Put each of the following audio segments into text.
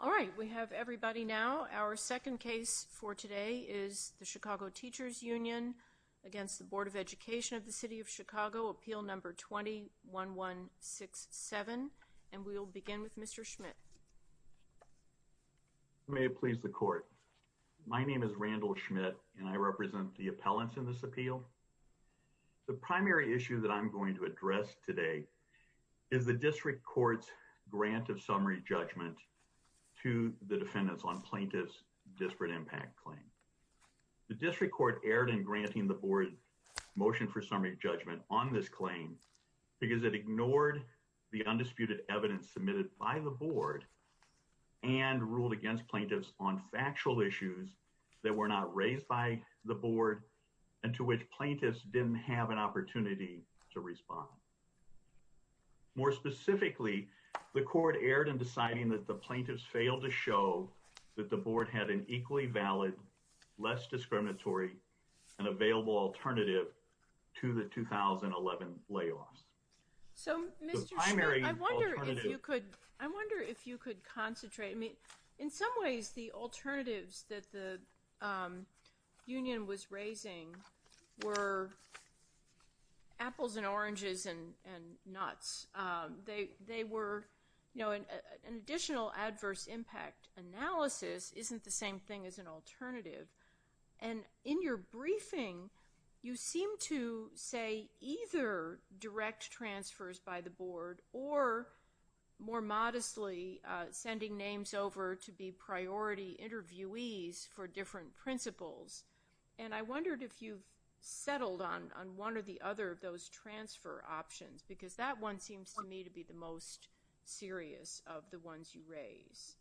All right, we have everybody now. Our second case for today is the Chicago Teachers Union against the Board of Education of the City of Chicago, appeal number 21167, and we will begin with Mr. Schmidt. Mr. Schmidt. May it please the court. My name is Randall Schmidt, and I represent the appellants in this appeal. The primary issue that I'm going to address today is the district courts grant of summary judgment to the defendants on plaintiffs disparate impact claim. The district court erred in granting the board motion for summary judgment on this claim because it ignored the undisputed evidence submitted by the board and ruled against plaintiffs on factual issues that were not raised by the board and to which plaintiffs didn't have an opportunity to respond. More specifically, the court erred in deciding that the plaintiffs failed to show that the board had an equally valid, less discriminatory and available alternative to the 2011 layoffs. So, Mr. Schmidt, I wonder if you could concentrate. I mean, in some ways, the alternatives that the union was raising were apples and oranges and nuts. They were an additional adverse impact analysis isn't the same thing as an alternative. And in your briefing, you seem to say either direct transfers by the board or more modestly sending names over to be priority interviewees for different principles. And I wondered if you've settled on one or the other of those transfer options, because that one seems to me to be the most serious of the ones you raise.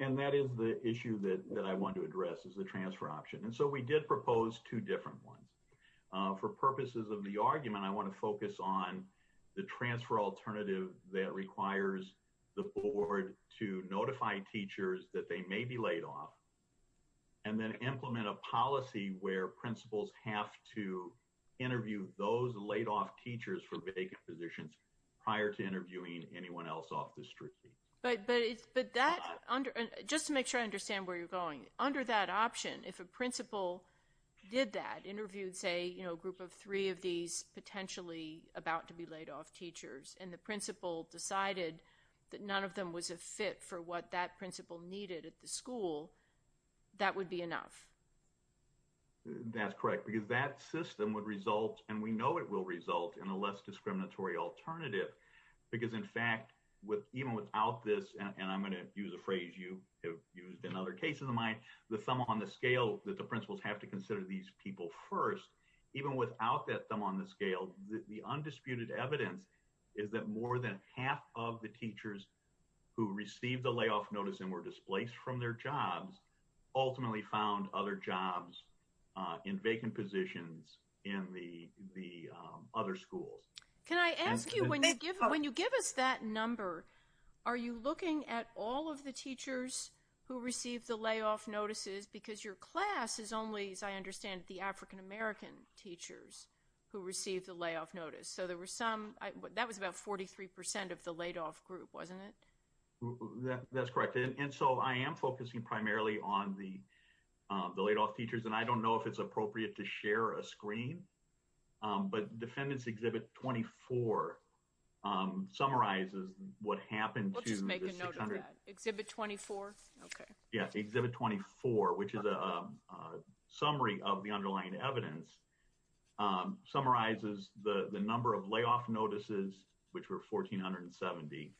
And that is the issue that I want to address is the transfer option. And so we did propose two different ones for purposes of the argument. I want to focus on the transfer alternative that requires the board to notify teachers that they may be laid off. And then implement a policy where principals have to interview those laid off teachers for vacant positions prior to interviewing anyone else off the street. But but it's but that under just to make sure I understand where you're going under that option. If a principal did that interviewed, say, you know, a group of three of these potentially about to be laid off teachers and the principal decided that none of them was a fit for what that principal needed at the school, that would be enough. That's correct, because that system would result and we know it will result in a less discriminatory alternative. Because, in fact, with even without this, and I'm going to use a phrase you have used in other cases of mine, the thumb on the scale that the principals have to consider these people first, even without that thumb on the scale, the undisputed evidence is that more than half of the teachers who received the layoff notice and were displaced from their jobs ultimately found other jobs in vacant positions in the other schools. Can I ask you when you give when you give us that number, are you looking at all of the teachers who received the layoff notices? Because your class is only, as I understand, the African-American teachers who received the layoff notice. So there were some that was about 43 percent of the laid off group, wasn't it? That's correct. And so I am focusing primarily on the the laid off teachers, and I don't know if it's appropriate to share a screen, but defendants exhibit 24 summarizes what happened to make an exhibit 24. Exhibit 24, which is a summary of the underlying evidence, summarizes the number of layoff notices, which were 1,470,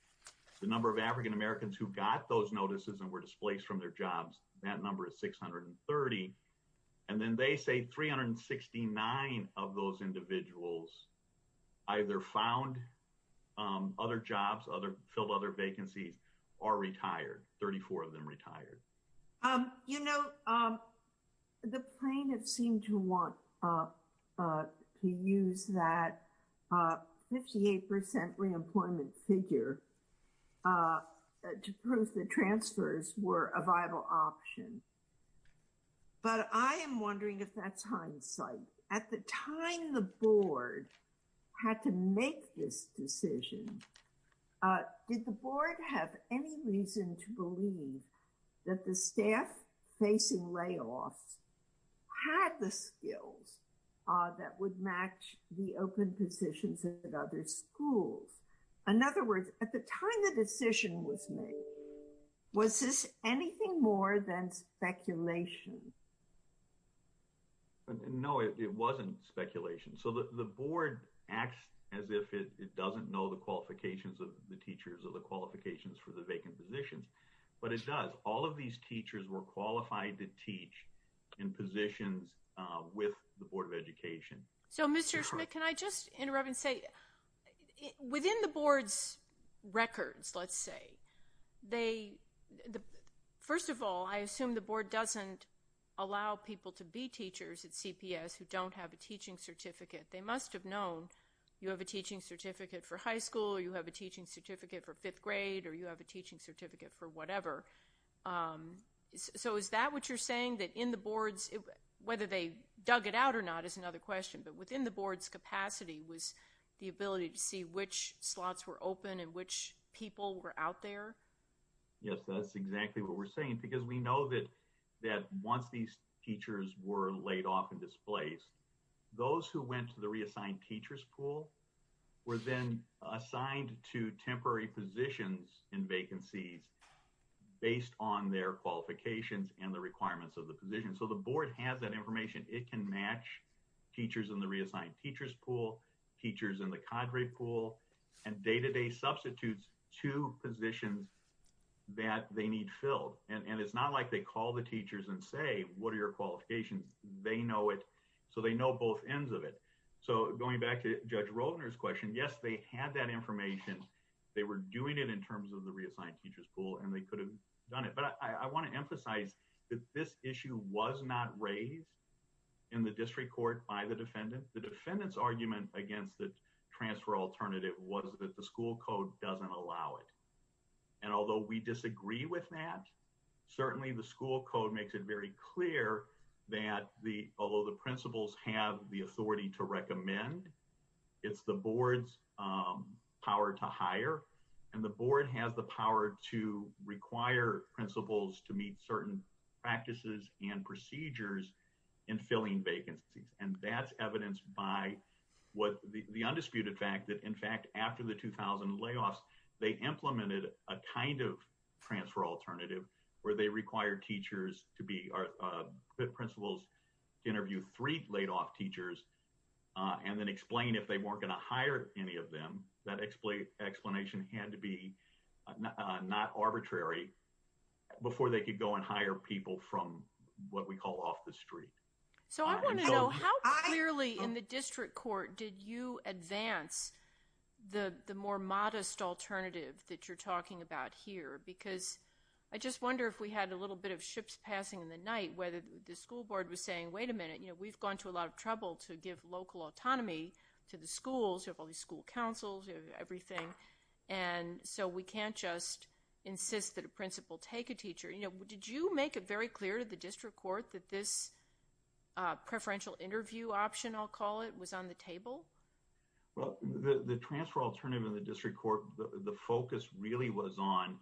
the number of African-Americans who got those notices and were displaced from their jobs. That number is 630. And then they say 369 of those individuals either found other jobs, other filled other vacancies or retired, 34 of them retired. You know, the plaintiff seemed to want to use that 58 percent reemployment figure to prove that transfers were a viable option. But I am wondering if that's hindsight. At the time the board had to make this decision, did the board have any reason to believe that the staff facing layoffs had the skills that would match the open positions at other schools? In other words, at the time the decision was made, was this anything more than speculation? No, it wasn't speculation. So the board acts as if it doesn't know the qualifications of the teachers or the qualifications for the vacant positions. But it does. All of these teachers were qualified to teach in positions with the Board of Education. So, Mr. Schmidt, can I just interrupt and say, within the board's records, let's say, first of all, I assume the board doesn't allow people to be teachers at CPS who don't have a teaching certificate. They must have known you have a teaching certificate for high school or you have a teaching certificate for fifth grade or you have a teaching certificate for whatever. So is that what you're saying, that in the board's, whether they dug it out or not is another question, but within the board's capacity was the ability to see which slots were open and which people were out there? Yes, that's exactly what we're saying, because we know that once these teachers were laid off and displaced, those who went to the reassigned teachers pool were then assigned to temporary positions in vacancies based on their qualifications and the requirements of the position. And so the board has that information. It can match teachers in the reassigned teachers pool, teachers in the cadre pool, and day-to-day substitutes to positions that they need filled. And it's not like they call the teachers and say, what are your qualifications? They know it. So they know both ends of it. So going back to Judge Roldner's question, yes, they had that information. They were doing it in terms of the reassigned teachers pool and they could have done it. But I want to emphasize that this issue was not raised in the district court by the defendant. The defendant's argument against the transfer alternative was that the school code doesn't allow it. And although we disagree with that, certainly the school code makes it very clear that although the principals have the authority to recommend, it's the board's power to hire. And the board has the power to require principals to meet certain practices and procedures in filling vacancies. And that's evidenced by the undisputed fact that, in fact, after the 2000 layoffs, they implemented a kind of transfer alternative where they required principals to interview three laid off teachers and then explain if they weren't going to hire any of them. That explanation had to be not arbitrary before they could go and hire people from what we call off the street. So I want to know how clearly in the district court did you advance the more modest alternative that you're talking about here? Because I just wonder if we had a little bit of ships passing in the night, whether the school board was saying, wait a minute, we've gone to a lot of trouble to give local autonomy to the schools. You have all these school councils, everything. And so we can't just insist that a principal take a teacher. Did you make it very clear to the district court that this preferential interview option, I'll call it, was on the table? Well, the transfer alternative in the district court, the focus really was on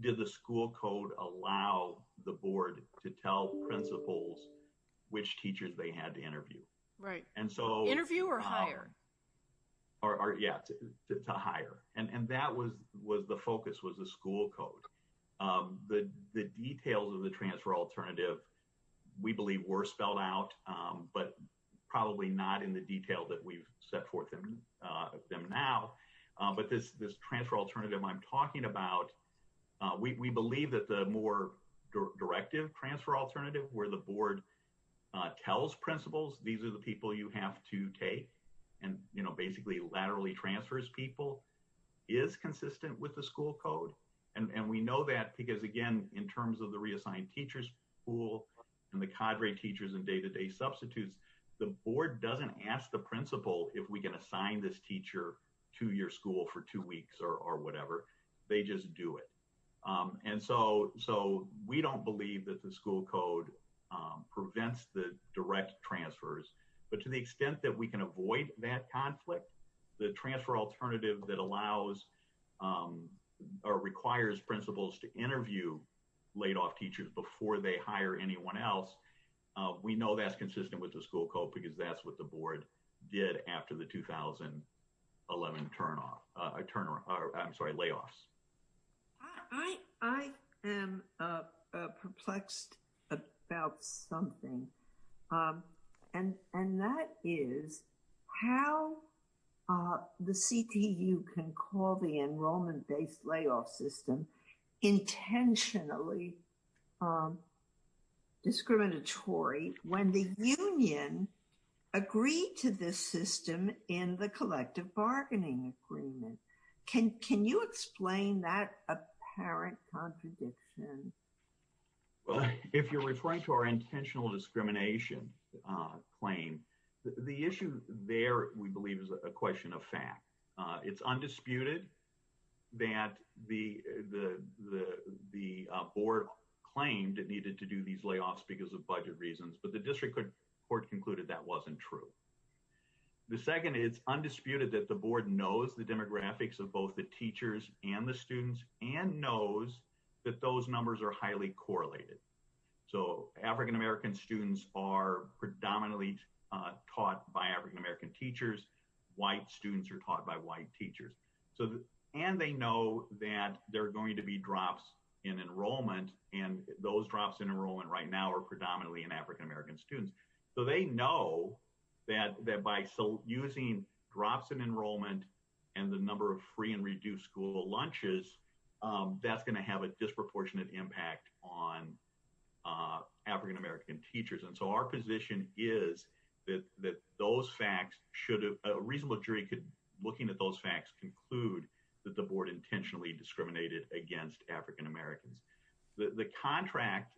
did the school code allow the board to tell principals which teachers they had to interview. Right. And so interview or hire? Yeah, to hire. And that was the focus, was the school code. The details of the transfer alternative, we believe, were spelled out, but probably not in the detail that we've set forth them now. But this transfer alternative I'm talking about, we believe that the more directive transfer alternative where the board tells principals, these are the people you have to take, and basically laterally transfers people, is consistent with the school code. And we know that because, again, in terms of the reassigned teachers pool and the cadre teachers and day-to-day substitutes, the board doesn't ask the principal if we can assign this teacher to your school for two weeks or whatever. They just do it. And so we don't believe that the school code prevents the direct transfers, but to the extent that we can avoid that conflict, the transfer alternative that allows or requires principals to interview laid-off teachers before they hire anyone else, we know that's consistent with the school code because that's what the board did after the 2011 layoffs. I am perplexed about something, and that is how the CTU can call the enrollment-based layoff system intentionally discriminatory when the union agreed to this system in the collective bargaining agreement. Can you explain that apparent contradiction? If you're referring to our intentional discrimination claim, the issue there, we believe, is a question of fact. It's undisputed that the board claimed it needed to do these layoffs because of budget reasons, but the district court concluded that wasn't true. The second, it's undisputed that the board knows the demographics of both the teachers and the students and knows that those numbers are highly correlated. So African-American students are predominantly taught by African-American teachers. White students are taught by white teachers. And they know that there are going to be drops in enrollment, and those drops in enrollment right now are predominantly in African-American students. So they know that by using drops in enrollment and the number of free and reduced school lunches, that's going to have a disproportionate impact on African-American teachers. And so our position is that those facts should have a reasonable jury looking at those facts conclude that the board intentionally discriminated against African-Americans. The contract,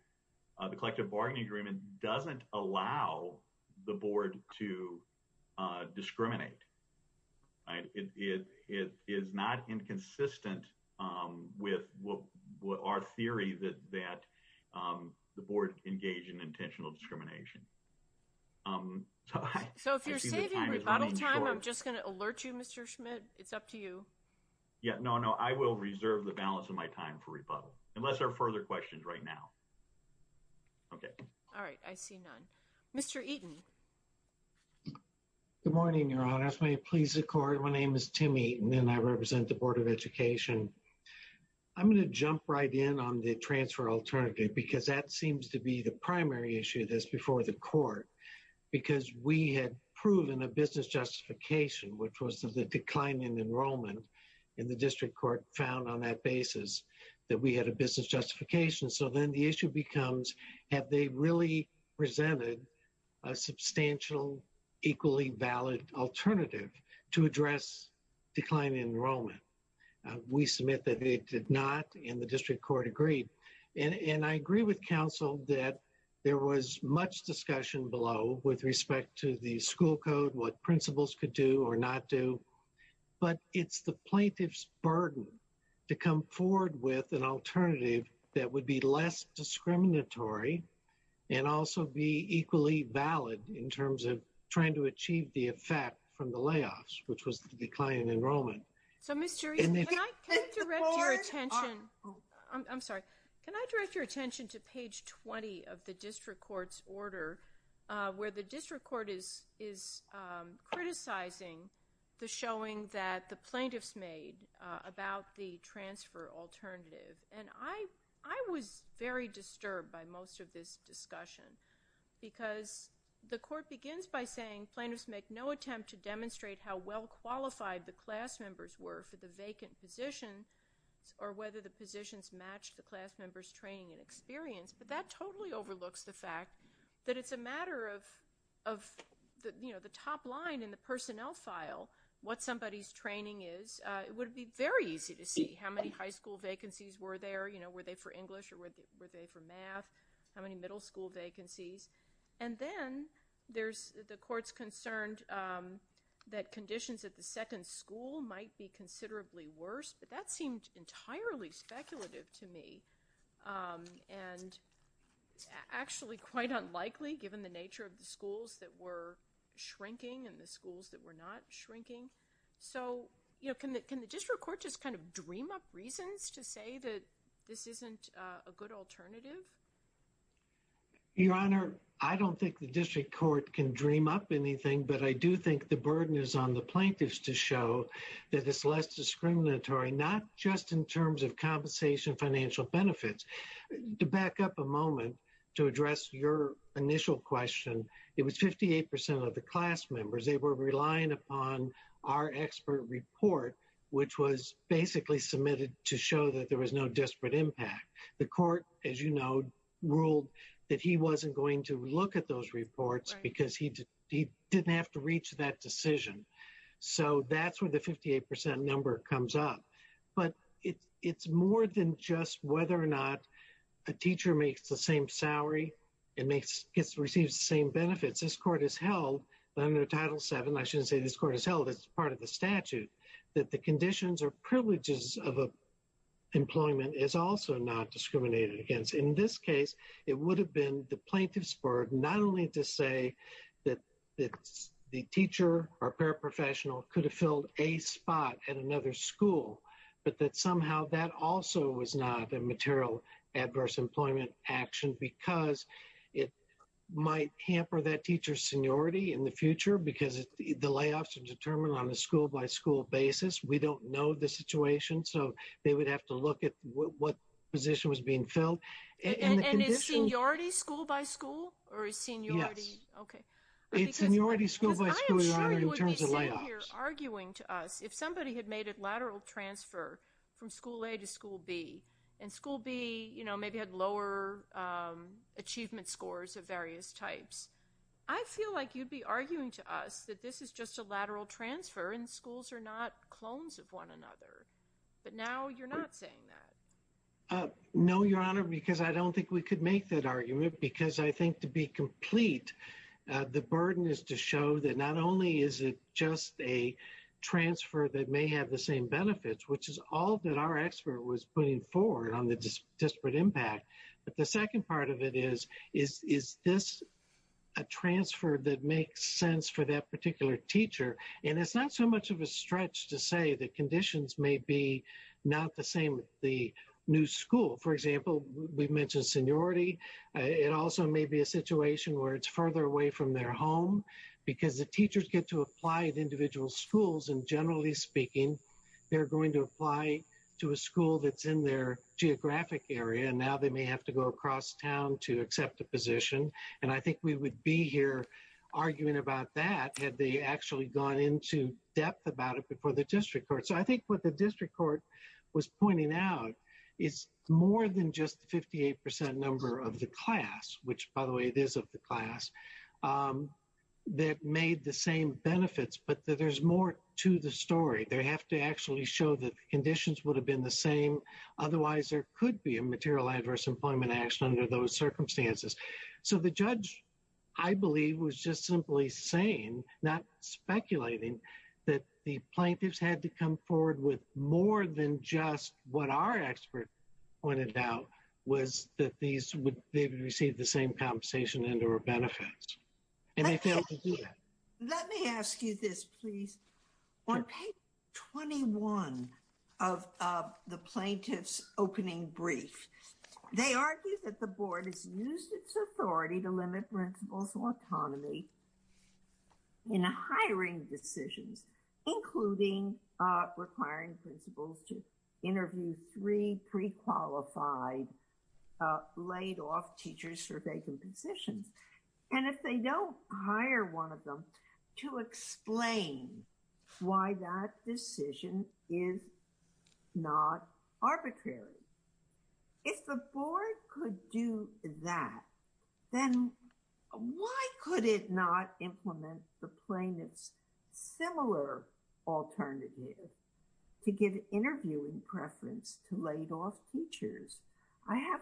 the collective bargaining agreement, doesn't allow the board to discriminate. It is not inconsistent with our theory that the board engaged in intentional discrimination. So if you're saving rebuttal time, I'm just going to alert you, Mr. Schmidt, it's up to you. Yeah, no, no, I will reserve the balance of my time for rebuttal unless there are further questions right now. OK. All right. I see none. Mr. Eaton. Good morning, Your Honor. May it please the court. My name is Timmy and I represent the Board of Education. I'm going to jump right in on the transfer alternative, because that seems to be the primary issue that's before the court, because we had proven a business justification, which was the decline in enrollment in the district court, found on that basis that we had a business justification. So then the issue becomes, have they really presented a substantial, equally valid alternative to address declining enrollment? We submit that they did not in the district court agreed. And I agree with counsel that there was much discussion below with respect to the school code, what principals could do or not do. But it's the plaintiff's burden to come forward with an alternative that would be less discriminatory and also be equally valid in terms of trying to achieve the effect from the layoffs, which was the decline in enrollment. So, Mr. Eaton, can I direct your attention to page 20 of the district court's order, where the district court is criticizing the showing that the plaintiffs made about the transfer alternative. And I was very disturbed by most of this discussion, because the court begins by saying, plaintiffs make no attempt to demonstrate how well qualified the class members were for the vacant positions or whether the positions matched the class members' training and experience. But that totally overlooks the fact that it's a matter of the top line in the personnel file, what somebody's training is. It would be very easy to see how many high school vacancies were there. Were they for English or were they for math? How many middle school vacancies? And then the court's concerned that conditions at the second school might be considerably worse. But that seemed entirely speculative to me and actually quite unlikely, given the nature of the schools that were shrinking and the schools that were not shrinking. So can the district court just kind of dream up reasons to say that this isn't a good alternative? Your Honor, I don't think the district court can dream up anything, but I do think the burden is on the plaintiffs to show that it's less discriminatory, not just in terms of compensation, financial benefits. To back up a moment to address your initial question, it was 58% of the class members, they were relying upon our expert report, which was basically submitted to show that there was no disparate impact. The court, as you know, ruled that he wasn't going to look at those reports because he didn't have to reach that decision. So that's where the 58% number comes up. But it's more than just whether or not a teacher makes the same salary and gets to receive the same benefits. This court has held under Title VII, I shouldn't say this court has held, it's part of the statute, that the conditions or privileges of employment is also not discriminated against. In this case, it would have been the plaintiff's burden not only to say that the teacher or paraprofessional could have filled a spot at another school. But that somehow that also was not a material adverse employment action because it might hamper that teacher's seniority in the future because the layoffs are determined on a school by school basis. We don't know the situation, so they would have to look at what position was being filled. And is seniority school by school or is seniority? Yes. Okay. It's seniority school by school, Your Honor, in terms of layoffs. I am sure you would be sitting here arguing to us if somebody had made a lateral transfer from school A to school B and school B, you know, maybe had lower achievement scores of various types. I feel like you'd be arguing to us that this is just a lateral transfer and schools are not clones of one another. But now you're not saying that. No, Your Honor, because I don't think we could make that argument because I think to be complete, the burden is to show that not only is it just a transfer that may have the same benefits, which is all that our expert was putting forward on the disparate impact. But the second part of it is, is this a transfer that makes sense for that particular teacher? And it's not so much of a stretch to say that conditions may be not the same with the new school. For example, we mentioned seniority. It also may be a situation where it's further away from their home because the teachers get to apply at individual schools. And generally speaking, they're going to apply to a school that's in their geographic area. And now they may have to go across town to accept a position. And I think we would be here arguing about that had they actually gone into depth about it before the district court. So I think what the district court was pointing out is more than just the 58 percent number of the class, which, by the way, it is of the class that made the same benefits. But there's more to the story. They have to actually show that conditions would have been the same. Otherwise, there could be a material adverse employment action under those circumstances. So the judge, I believe, was just simply saying, not speculating, that the plaintiffs had to come forward with more than just what our expert pointed out was that these would receive the same compensation and or benefits. And they failed to do that. Let me ask you this, please. On page 21 of the plaintiff's opening brief, they argue that the board has used its authority to limit principals' autonomy in hiring decisions, including requiring principals to interview three pre-qualified laid off teachers for vacant positions. And if they don't hire one of them to explain why that decision is not arbitrary, if the board could do that, then why could it not implement the plaintiff's similar alternative to give interviewing preference to laid off teachers? I have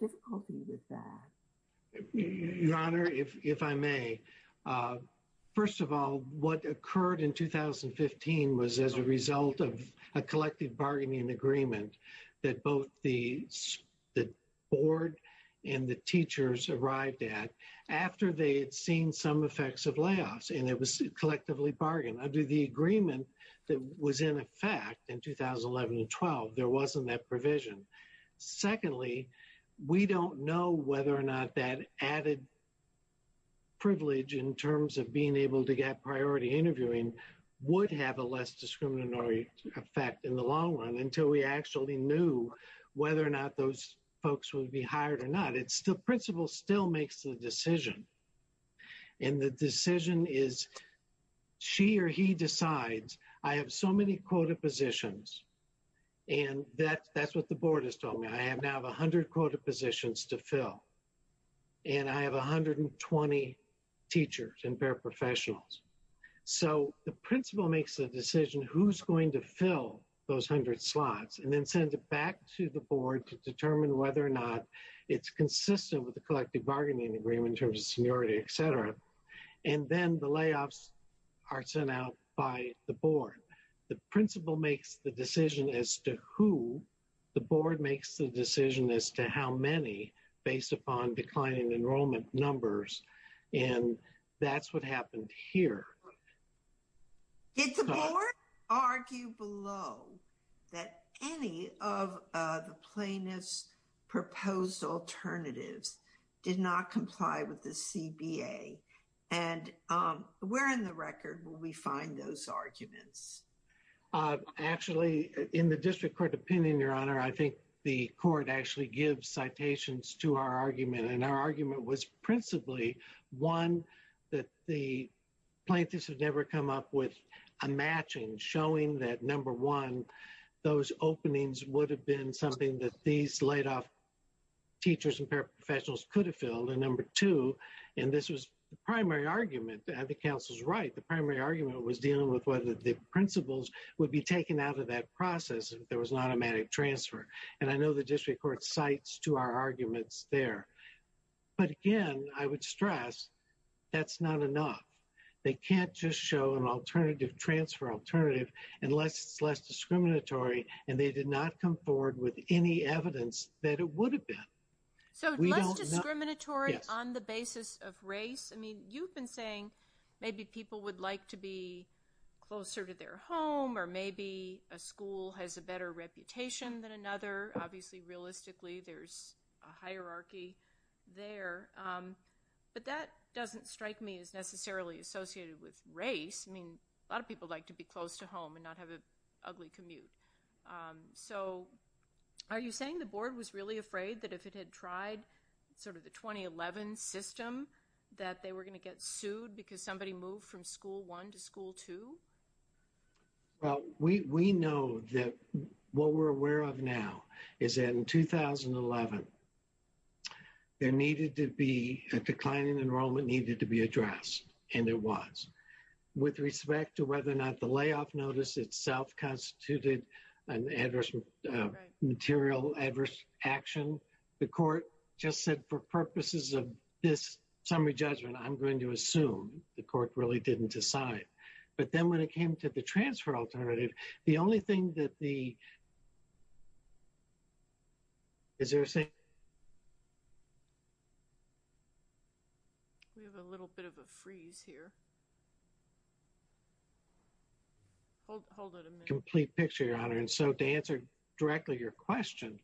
difficulty with that. Your Honor, if I may, first of all, what occurred in 2015 was as a result of a collective bargaining agreement that both the board and the teachers arrived at after they had seen some effects of layoffs. And it was collectively bargained. Under the agreement that was in effect in 2011 and 12, there wasn't that provision. Secondly, we don't know whether or not that added privilege in terms of being able to get priority interviewing would have a less discriminatory effect in the long run until we actually knew whether or not those folks would be hired or not. It's the principal still makes the decision. And the decision is she or he decides, I have so many quota positions, and that's what the board has told me. I now have 100 quota positions to fill. And I have 120 teachers and paraprofessionals. So the principal makes the decision who's going to fill those 100 slots and then sends it back to the board to determine whether or not it's consistent with the collective bargaining agreement in terms of seniority, et cetera. And then the layoffs are sent out by the board. The principal makes the decision as to who the board makes the decision as to how many based upon declining enrollment numbers. And that's what happened here. Did the board argue below that any of the plaintiffs' proposed alternatives did not comply with the CBA? And where in the record will we find those arguments? Actually, in the district court opinion, Your Honor, I think the court actually gives citations to our argument. And our argument was principally, one, that the plaintiffs have never come up with a matching showing that, number one, those openings would have been something that these laid off teachers and paraprofessionals could have filled. And number two, and this was the primary argument, and the counsel's right, the primary argument was dealing with whether the principals would be taken out of that process if there was an automatic transfer. And I know the district court cites to our arguments there. But again, I would stress that's not enough. They can't just show an alternative transfer alternative unless it's less discriminatory and they did not come forward with any evidence that it would have been. So less discriminatory on the basis of race? I mean, you've been saying maybe people would like to be closer to their home or maybe a school has a better reputation than another. Obviously, realistically, there's a hierarchy there. But that doesn't strike me as necessarily associated with race. I mean, a lot of people like to be close to home and not have an ugly commute. So are you saying the board was really afraid that if it had tried sort of the 2011 system that they were going to get sued because somebody moved from school one to school to. Well, we know that what we're aware of now is in 2011. There needed to be a declining enrollment needed to be addressed. And there was with respect to whether or not the layoff notice itself constituted an adverse material, adverse action. The court just said for purposes of this summary judgment, I'm going to assume the court really didn't decide. But then when it came to the transfer alternative, the only thing that the. Is there a. We have a little bit of a freeze here. Hold hold a complete picture, your honor, and so to answer directly, your question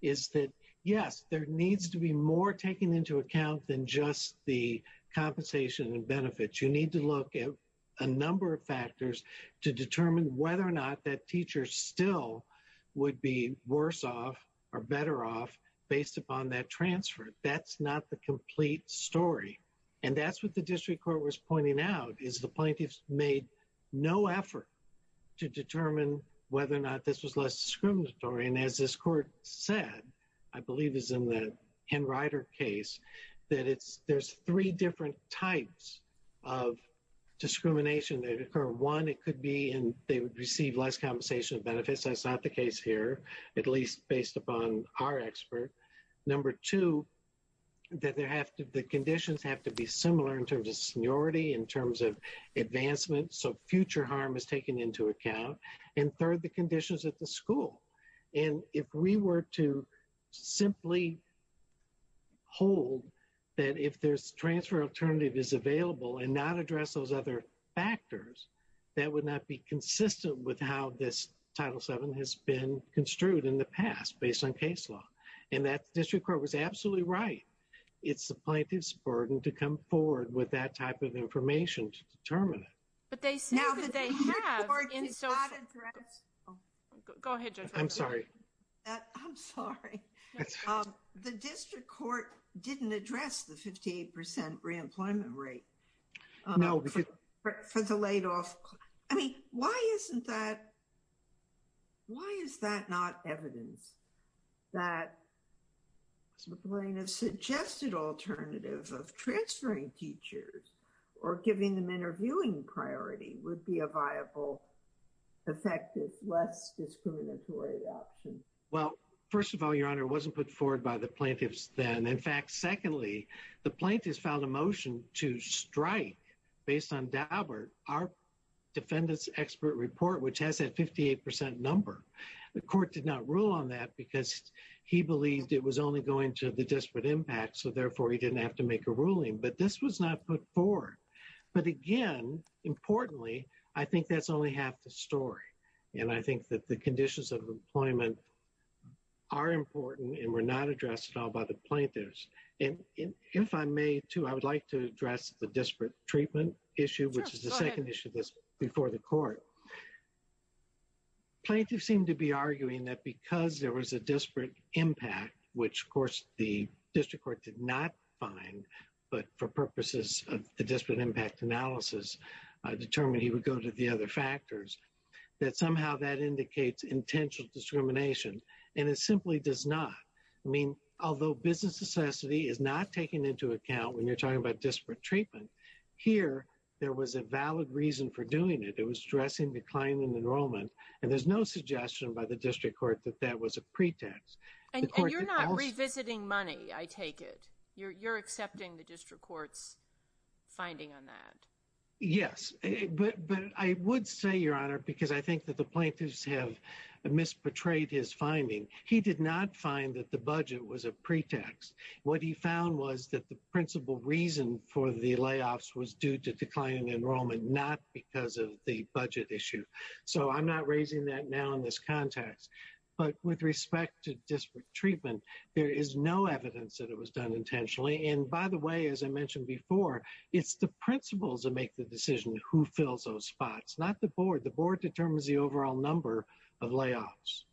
is that, yes, there needs to be more taken into account than just the compensation and benefits. You need to look at a number of factors to determine whether or not that teacher still would be worse off or better off based upon that transfer. That's not the complete story. And that's what the district court was pointing out, is the plaintiffs made no effort to determine whether or not this was less discriminatory. And as this court said, I believe is in the handwriter case that it's there's three different types of discrimination that occur. One, it could be and they would receive less compensation benefits. That's not the case here, at least based upon our expert. Number two, that they have to the conditions have to be similar in terms of seniority, in terms of advancement. So future harm is taken into account. And third, the conditions at the school. And if we were to simply hold that, if there's transfer alternative is available and not address those other factors, that would not be consistent with how this title seven has been construed in the past based on case law. And that district court was absolutely right. It's the plaintiff's burden to come forward with that type of information to determine it. But they say that they have. Go ahead. I'm sorry. I'm sorry. The district court didn't address the 50% reemployment rate. No, because for the laid off. I mean, why isn't that? Why is that not evidence? That. The plaintiff suggested alternative of transferring teachers or giving them interviewing priority would be a viable, effective, less discriminatory option. Well, first of all, your honor wasn't put forward by the plaintiffs. Then, in fact, secondly, the plaintiffs found a motion to strike based on our defendants expert report, which has a 58% number. The court did not rule on that because he believed it was only going to the disparate impact. So, therefore, he didn't have to make a ruling. But this was not put forward. But again, importantly, I think that's only half the story. And I think that the conditions of employment are important and were not addressed at all by the plaintiffs. And if I may, too, I would like to address the disparate treatment issue, which is the second issue of this before the court. Plaintiff seemed to be arguing that because there was a disparate impact, which, of course, the district court did not find. But for purposes of the disparate impact analysis, I determined he would go to the other factors that somehow that indicates intentional discrimination. And it simply does not mean, although business necessity is not taken into account when you're talking about disparate treatment here, there was a valid reason for doing it. It was stressing decline in enrollment. And there's no suggestion by the district court that that was a pretext. And you're not revisiting money. I take it you're accepting the district court's finding on that. Yes. But I would say, Your Honor, because I think that the plaintiffs have misportrayed his finding. He did not find that the budget was a pretext. What he found was that the principal reason for the layoffs was due to declining enrollment, not because of the budget issue. So I'm not raising that now in this context. But with respect to disparate treatment, there is no evidence that it was done intentionally. And by the way, as I mentioned before, it's the principals that make the decision who fills those spots, not the board. The board determines the overall number of layoffs.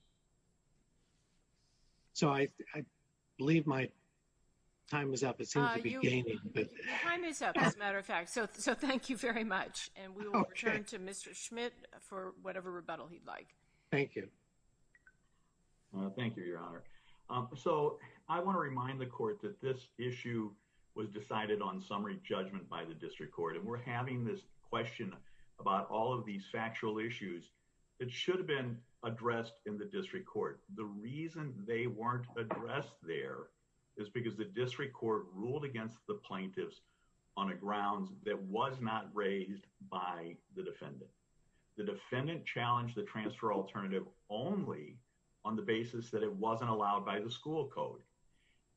So I believe my time is up. It seems to be gaining. Your time is up, as a matter of fact. So thank you very much. And we will return to Mr. Schmidt for whatever rebuttal he'd like. Thank you. Thank you, Your Honor. So I want to remind the court that this issue was decided on summary judgment by the district court. And we're having this question about all of these factual issues that should have been addressed in the district court. The reason they weren't addressed there is because the district court ruled against the plaintiffs on a grounds that was not raised by the defendant. The defendant challenged the transfer alternative only on the basis that it wasn't allowed by the school code.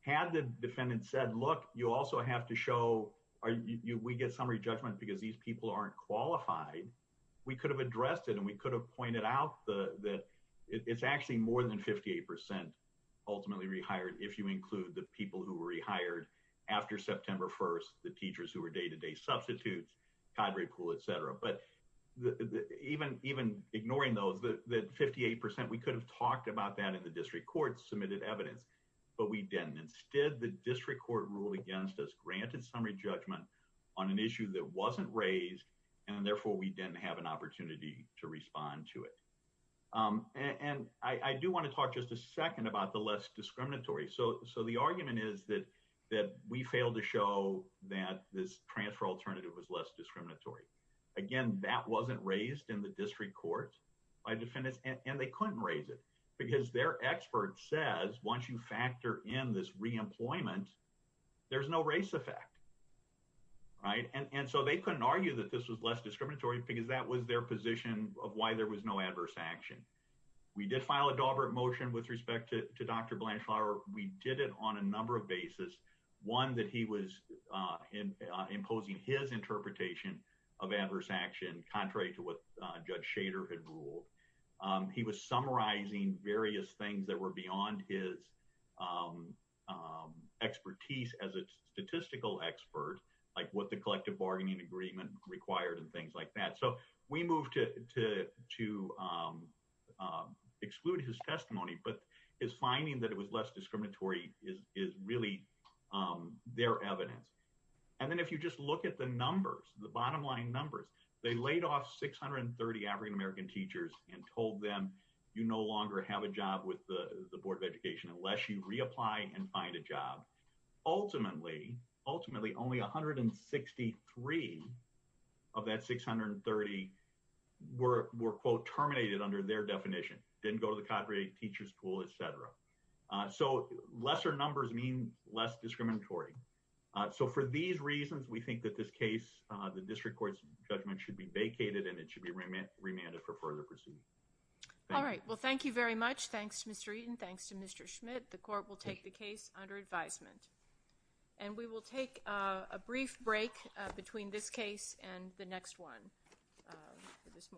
Had the defendant said, look, you also have to show we get summary judgment because these people aren't qualified, we could have addressed it. And we could have pointed out that it's actually more than 58% ultimately rehired, if you include the people who were rehired after September 1st, the teachers who were day-to-day substitutes, cadre pool, et cetera. But even ignoring those, the 58%, we could have talked about that in the district court, submitted evidence, but we didn't. Instead, the district court ruled against us, granted summary judgment on an issue that wasn't raised, and therefore we didn't have an opportunity to respond to it. And I do want to talk just a second about the less discriminatory. So the argument is that we failed to show that this transfer alternative was less discriminatory. Again, that wasn't raised in the district court by defendants, and they couldn't raise it because their expert says once you factor in this reemployment, there's no race effect. And so they couldn't argue that this was less discriminatory because that was their position of why there was no adverse action. We did file a Daubert motion with respect to Dr. Blanchflower. We did it on a number of basis. One, that he was imposing his interpretation of adverse action contrary to what Judge Shader had ruled. He was summarizing various things that were beyond his expertise as a statistical expert, like what the collective bargaining agreement required and things like that. So we moved to exclude his testimony, but his finding that it was less discriminatory is really their evidence. And then if you just look at the numbers, the bottom line numbers, they laid off 630 African American teachers and told them you no longer have a job with the Board of Education unless you reapply and find a job. Ultimately, only 163 of that 630 were, quote, terminated under their definition, didn't go to the teachers pool, et cetera. So lesser numbers mean less discriminatory. So for these reasons, we think that this case, the district court's judgment should be vacated and it should be remanded for further proceedings. All right. Well, thank you very much. Thanks, Mr. Eaton. Thanks to Mr. Schmidt. The court will take the case under advisement. And we will take a brief break between this case and the next one this morning.